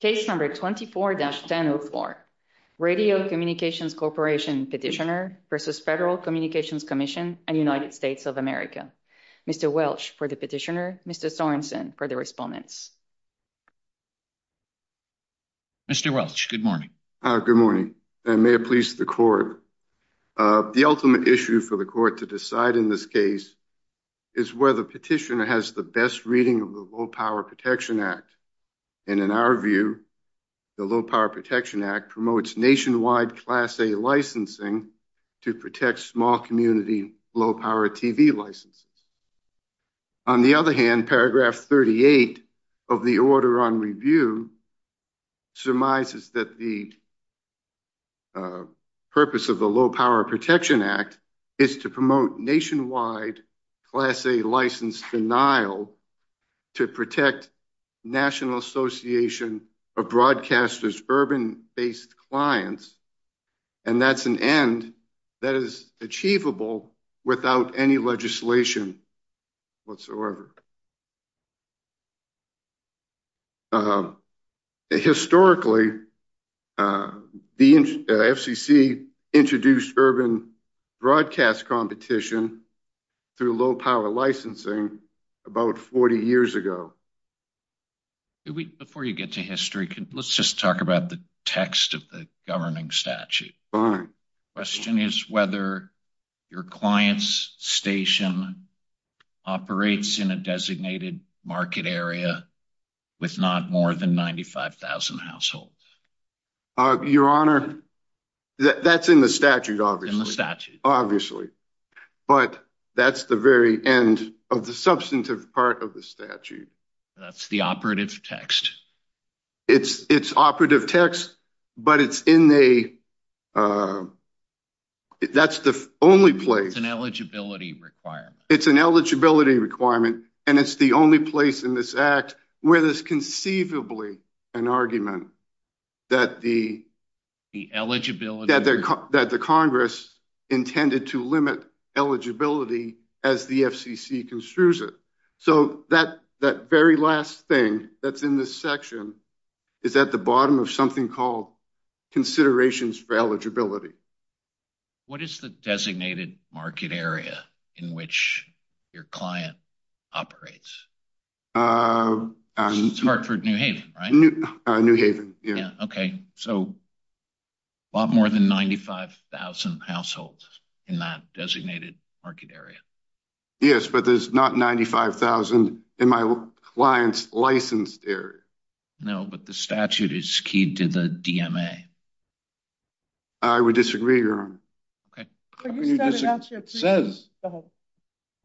Case number 24-1004, Radio Communications Corporation petitioner v. Federal Communications Commission and United States of America. Mr. Welch for the petitioner, Mr. Sorenson for the respondents. Mr. Welch, good morning. Good morning and may it please the court. The ultimate issue for the court to decide in this case is whether the petitioner has the best reading of the Low Power Protection Act. And in our view, the Low Power Protection Act promotes nationwide Class A licensing to protect small community low power TV licenses. On the other hand, paragraph 38 of the order on review surmises that the purpose of the Low Power Protection Act is to promote nationwide Class A license denial to protect National Association of Broadcasters urban-based clients. And that's an end that is achievable without any legislation whatsoever. Historically, the FCC introduced urban broadcast competition through low power licensing about 40 years ago. Before you get to history, let's just talk about the text of the market area with not more than 95,000 households. Your Honor, that's in the statute, obviously. But that's the very end of the substantive part of the statute. That's the operative text. It's operative text, but it's in the statute. That's the only place. It's an eligibility requirement. It's an eligibility requirement, and it's the only place in this act where there's conceivably an argument that the Congress intended to limit eligibility as the FCC construes it. So that very last thing that's in this section is at the bottom of something called considerations for eligibility. What is the designated market area in which your client operates? It's Hartford, New Haven, right? New Haven, yeah. Okay. So a lot more than 95,000 households in that designated market area. Yes, but there's not 95,000 in my client's licensed area. No, but the statute is key to the DMA. I would disagree, Your Honor. How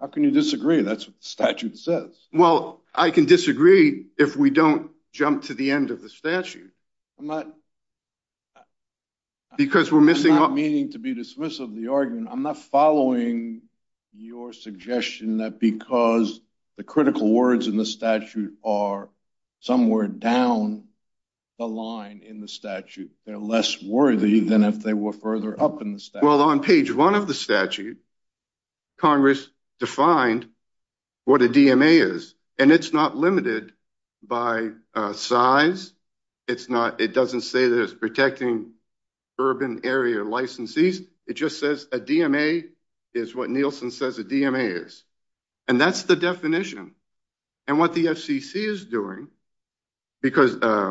can you disagree? That's what the statute says. Well, I can disagree if we don't jump to the end of the statute. Because we're missing... I'm not meaning to be dismissive of the argument. I'm not following your suggestion that because the critical words in the statute are somewhere down the line in the statute, they're less worthy than if they were further up in the statute. Well, on page one of the statute, Congress defined what a DMA is, and it's not limited by size. It doesn't say that it's protecting urban area licensees. It just says a DMA is what Nielsen says a DMA is, and that's the definition. And what the FCC is doing, and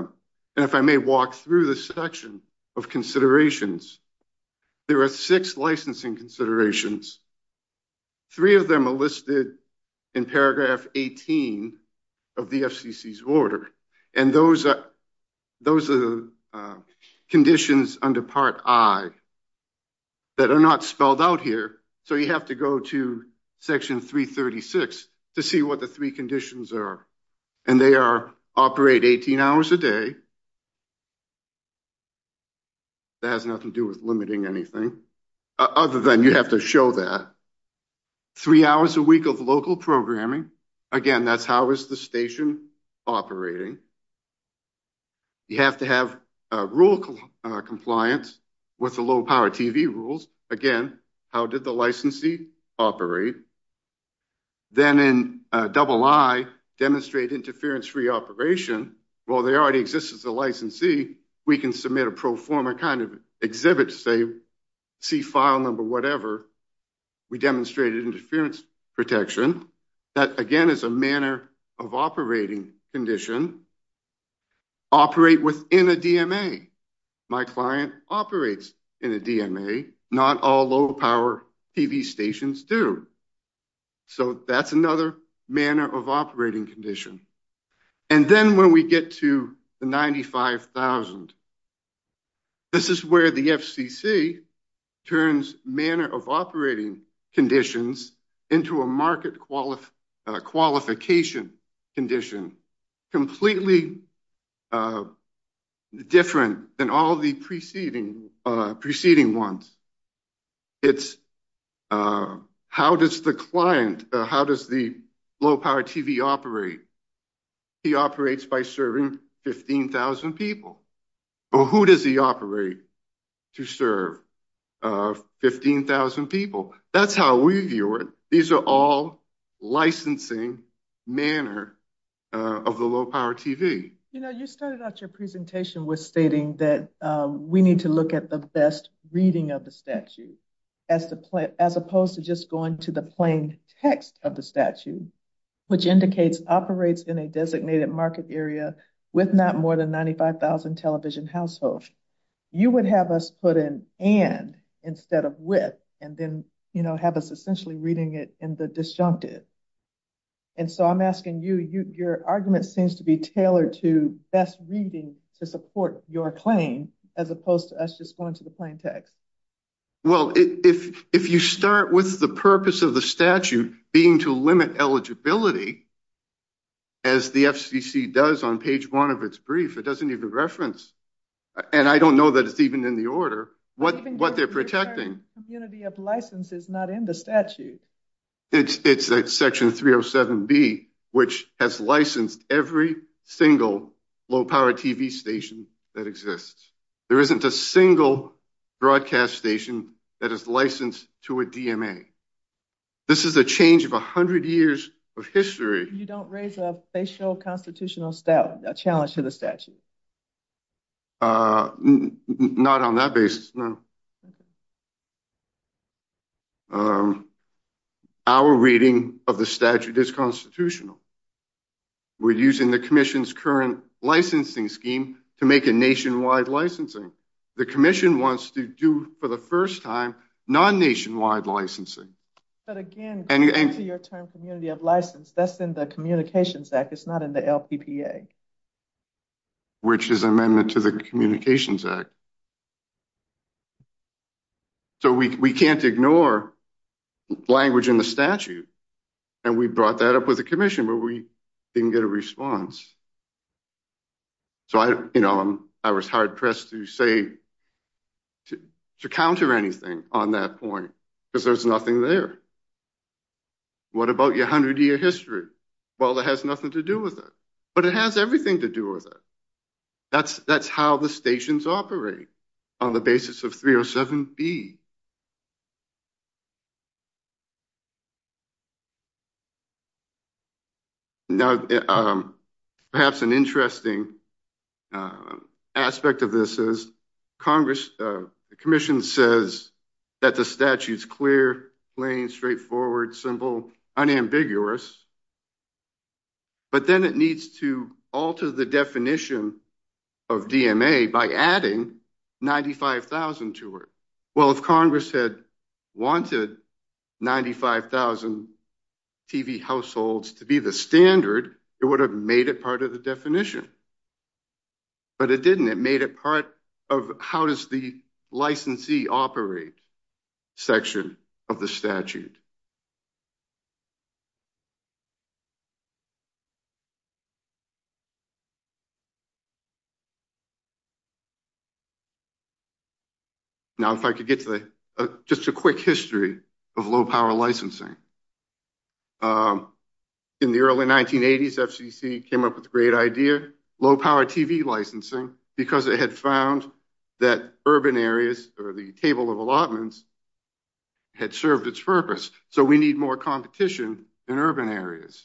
if I may walk through the section of considerations, there are six licensing considerations. Three of them are listed in paragraph 18 of the FCC's order, and those are the conditions under Part I that are not spelled out here. So you have to go to section 336 to see what the three conditions are, and they are operate 18 hours a day. That has nothing to do with limiting anything other than you have to show that. Three hours a week of local programming. Again, that's how is the station operating. You have to have rule compliance with the low-power TV rules. Again, how did the licensee operate? Then in III, demonstrate interference-free operation. While they already exist as a licensee, we can submit a pro forma kind of exhibit to say, see file number whatever. We demonstrated interference protection. That again is a manner of operating condition. Operate within a DMA. My client operates in a DMA. Not all low-power TV stations do. So that's another manner of operating condition. And then when we get to the 95,000, this is where the FCC turns manner of operating conditions into a market qualification condition. Completely different than all the preceding ones. It's how does the client, how does the low-power TV operate? He operates by serving 15,000 people. Who does he operate to serve 15,000 people? That's how we view it. These are all licensing manner of the low-power TV. You know, you started out your presentation with stating that we need to look at the best reading of the statute, as opposed to just going to the plain text of the statute, which indicates operates in a designated market area with not more than 95,000 television households. You would have us put in and instead of with, and then have us essentially reading it in the disjuncted. And so I'm asking you, your argument seems to be tailored to best reading to support your claim, as opposed to us just going to the plain text. Well, if you start with the purpose of the statute being to limit eligibility, as the FCC does on page one of its brief, it doesn't even reference, and I don't know that it's even in the order, what they're protecting. Community of license is not in the statute. It's section 307B, which has licensed every single low-power TV station that exists. There isn't a single broadcast station that is licensed to a DMA. This is a change of a hundred years of history. You don't raise a facial constitutional challenge to the statute? Not on that basis, no. Okay. Our reading of the statute is constitutional. We're using the commission's current licensing scheme to make a nationwide licensing. The commission wants to do, for the first time, non-nationwide licensing. But again, according to your term, community of license, that's in the Communications Act. It's not in the LPPA. Which is amendment to the Communications Act. So we can't ignore language in the statute. And we brought that up with the commission, but we didn't get a response. So I, you know, I was hard-pressed to say, to counter anything on that point, because there's nothing there. What about your hundred-year history? Well, it has nothing to do with it. But it has everything to do with it. That's how the stations operate, on the basis of 307B. Now, perhaps an interesting aspect of this is, the commission says that the statute's clear, plain, straightforward, simple, unambiguous. But then it needs to alter the definition of DMA by adding 95,000 to it. Well, if Congress had wanted 95,000 TV households to be the standard, it would have made it part of the definition. But it didn't. It made it part of how does the licensee operate section of the statute. Now, if I could get to just a quick history of low-power licensing. In the early 1980s, FCC came up with a great idea, low-power TV licensing, because it had found that urban areas, or the table of allotments, had served its purpose. So we need more competition in urban areas.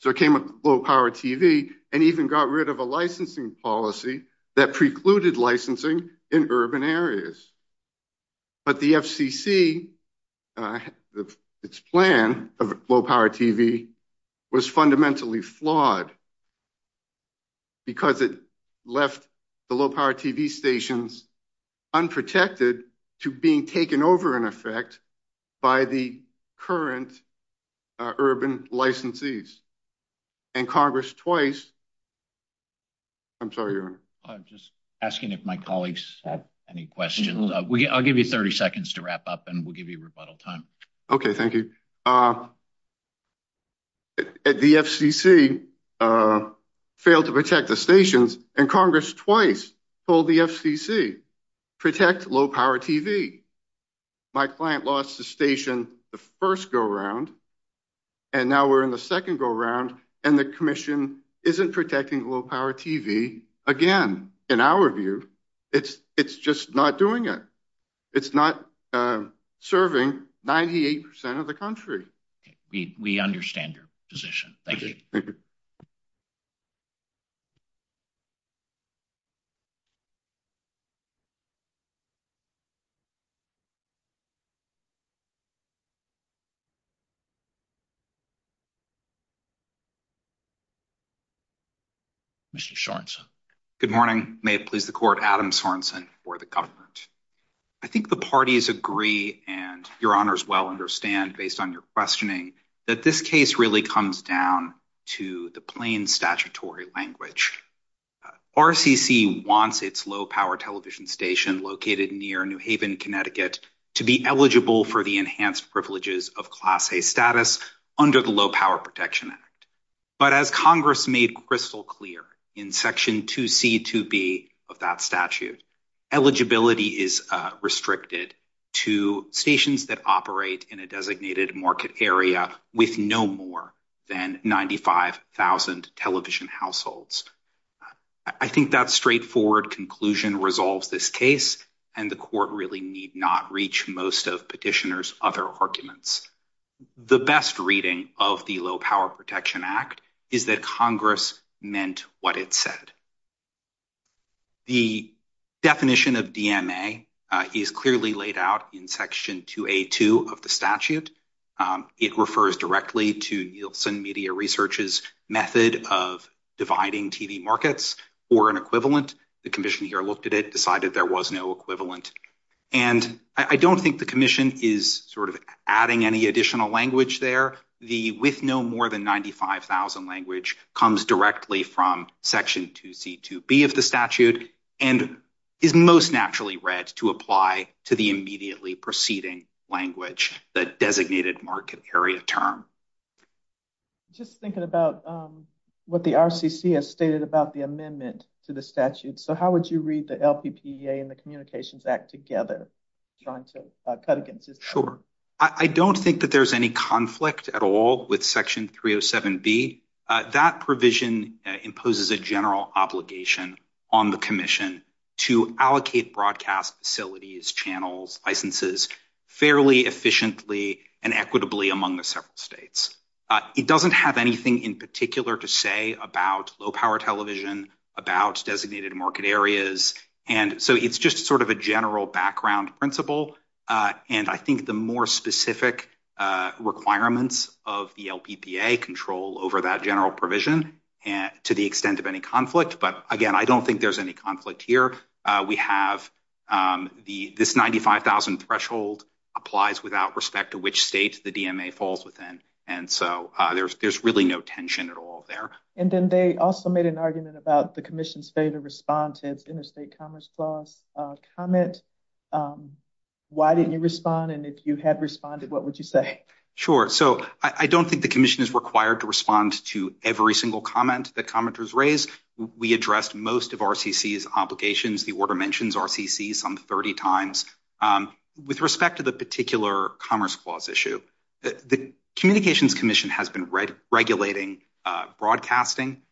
So it came up with low-power TV, and even got rid of a licensing policy that precluded licensing in urban areas. But the FCC, its plan of low-power TV was fundamentally flawed, because it left the low-power TV stations unprotected to being taken over, in effect, by the current urban licensees. And Congress twice—I'm sorry, Aaron. I'm just asking if my colleagues have any questions. I'll give you 30 seconds to wrap up, and we'll give you rebuttal time. Okay, thank you. The FCC failed to protect the stations, and Congress twice told the FCC, protect low-power TV. My client lost the station the first go-round, and now we're in the second go-round, and the commission isn't protecting low-power TV again, in our view. It's just not doing it. It's not serving 98 percent of the country. We understand your position. Thank you. Mr. Sorensen. Good morning. May it please the court, Adam Sorensen for the government. I think the parties agree, and your honors well understand, based on your questioning, that this case really comes down to the plain statutory language. RCC wants its low-power television station located near New Haven, Connecticut, to be eligible for the enhanced privileges of Class A status under the Low Power Protection Act. But as Congress made crystal clear in Section 2C2B of that statute, eligibility is restricted to stations that operate in a designated market area with no more than 95,000 television households. I think that straightforward conclusion resolves this case, and the court really need not reach most of petitioners' other arguments. The best reading of the Low Power Protection Act is that Congress meant what it said. The definition of DMA is clearly laid out in Section 2A2 of the statute. It refers directly to Nielsen Media Research's method of dividing TV markets for an equivalent. The commission here looked at it, decided there was no equivalent. And I don't think the commission is sort of adding any additional language there. The with no more than 95,000 language comes directly from Section 2C2B of the statute and is most naturally read to apply to the immediately preceding language the designated market area term. Just thinking about what the RCC has stated about the amendment to the statute. So how would you read the LPPEA and the Communications Act together? Sure. I don't think that there's any conflict at all with Section 307B. That provision imposes a general obligation on the commission to allocate broadcast facilities, channels, licenses fairly efficiently and equitably among the several states. It doesn't have anything in particular to say about low power television, about designated market areas. And so it's just sort of a general background principle. And I think the more specific requirements of the LPPEA control over that general provision to the extent of any conflict. But again, I don't think there's any conflict here. We have this 95,000 threshold applies without respect to which state the DMA falls within. And so there's really no tension at all there. And then they also made an argument about the commission's failure to respond to its interstate commerce clause comment. Why didn't you respond? And if you had responded, what would you say? Sure. So I don't think the commission is required to respond to every single comment that commenters raise. We addressed most of RCC's obligations. The order mentions RCC some 30 times. With respect to the particular commerce clause issue, the communications commission has been regulating broadcasting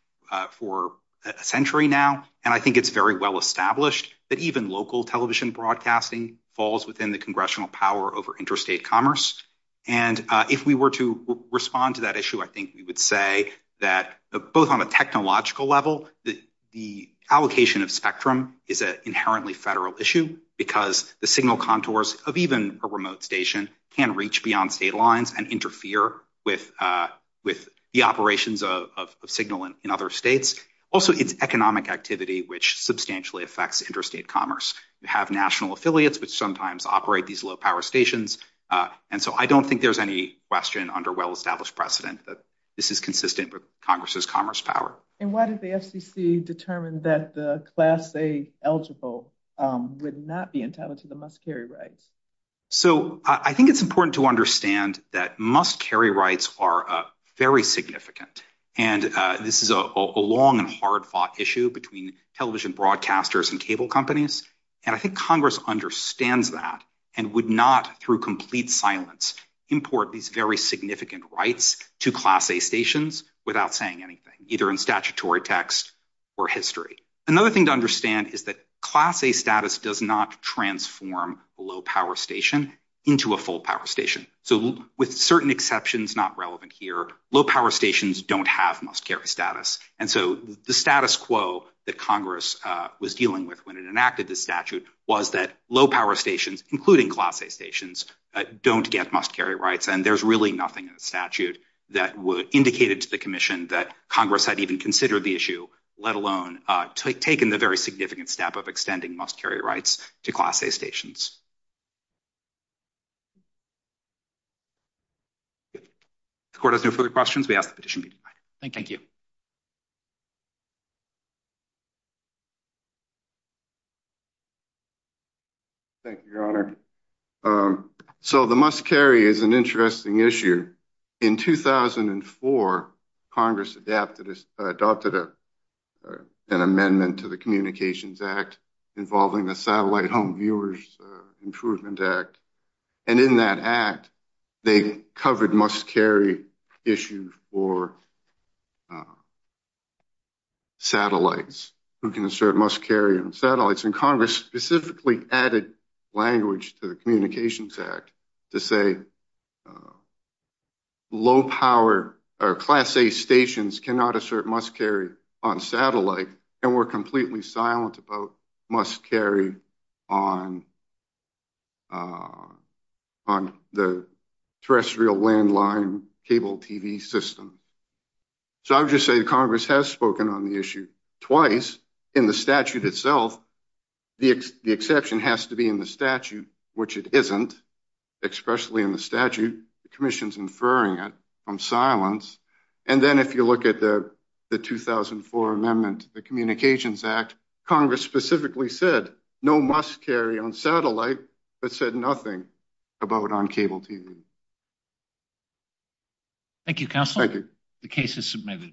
for a century now. And I think it's very well established that even local television broadcasting falls within the congressional power over interstate commerce. And if we were to respond to that issue, I think we would say that both on a technological level, the allocation of spectrum is an inherently federal issue because the signal contours of even a remote station can reach beyond state lines and interfere with the operations of signal in other states. Also, it's economic activity which substantially affects interstate commerce. You have national affiliates which sometimes operate these low power stations. And so I don't think there's any question under well-established precedent that this is consistent with Congress's commerce power. And why did the FCC determine that the Class A eligible would not be entitled to the must-carry rights? So I think it's important to understand that must-carry rights are very significant. And this is a long and hard-fought issue between television broadcasters and cable companies. And I think Congress understands that and would not, through complete silence, import these very significant rights to Class A stations without saying anything, either in statutory text or history. Another thing to understand is that Class A status does not transform a low-power station into a full-power station. So with certain exceptions not relevant here, low-power stations don't have must-carry status. And so the status quo that Congress was dealing with when it enacted this statute was that low-power stations, including Class A stations, don't get must-carry rights. And there's really nothing in the statute that would indicate to the Commission that Congress had even considered the issue, let alone taken the very significant step of extending must-carry rights to Class A stations. The Court has no further questions. We ask that the petition be divided. Thank you. Thank you, Your Honor. So the must-carry is an interesting issue. In 2004, Congress adopted an amendment to the Communications Act involving the Satellite Home Viewers Improvement Act. And in that act, they covered must-carry issues for satellites, who can assert must-carry on satellites. And Congress specifically added language to the Communications Act to say, low-power or Class A stations cannot assert must-carry on satellite, and were completely silent about must-carry on the terrestrial landline cable TV system. So I would just say Congress has spoken on the issue twice in the statute itself, the exception has to be in the statute, which it isn't. Especially in the statute, the Commission's inferring it from silence. And then if you look at the 2004 amendment to the Communications Act, Congress specifically said, no must-carry on satellite, but said nothing about on cable TV. Thank you, Counsel. Thank you. The case is submitted.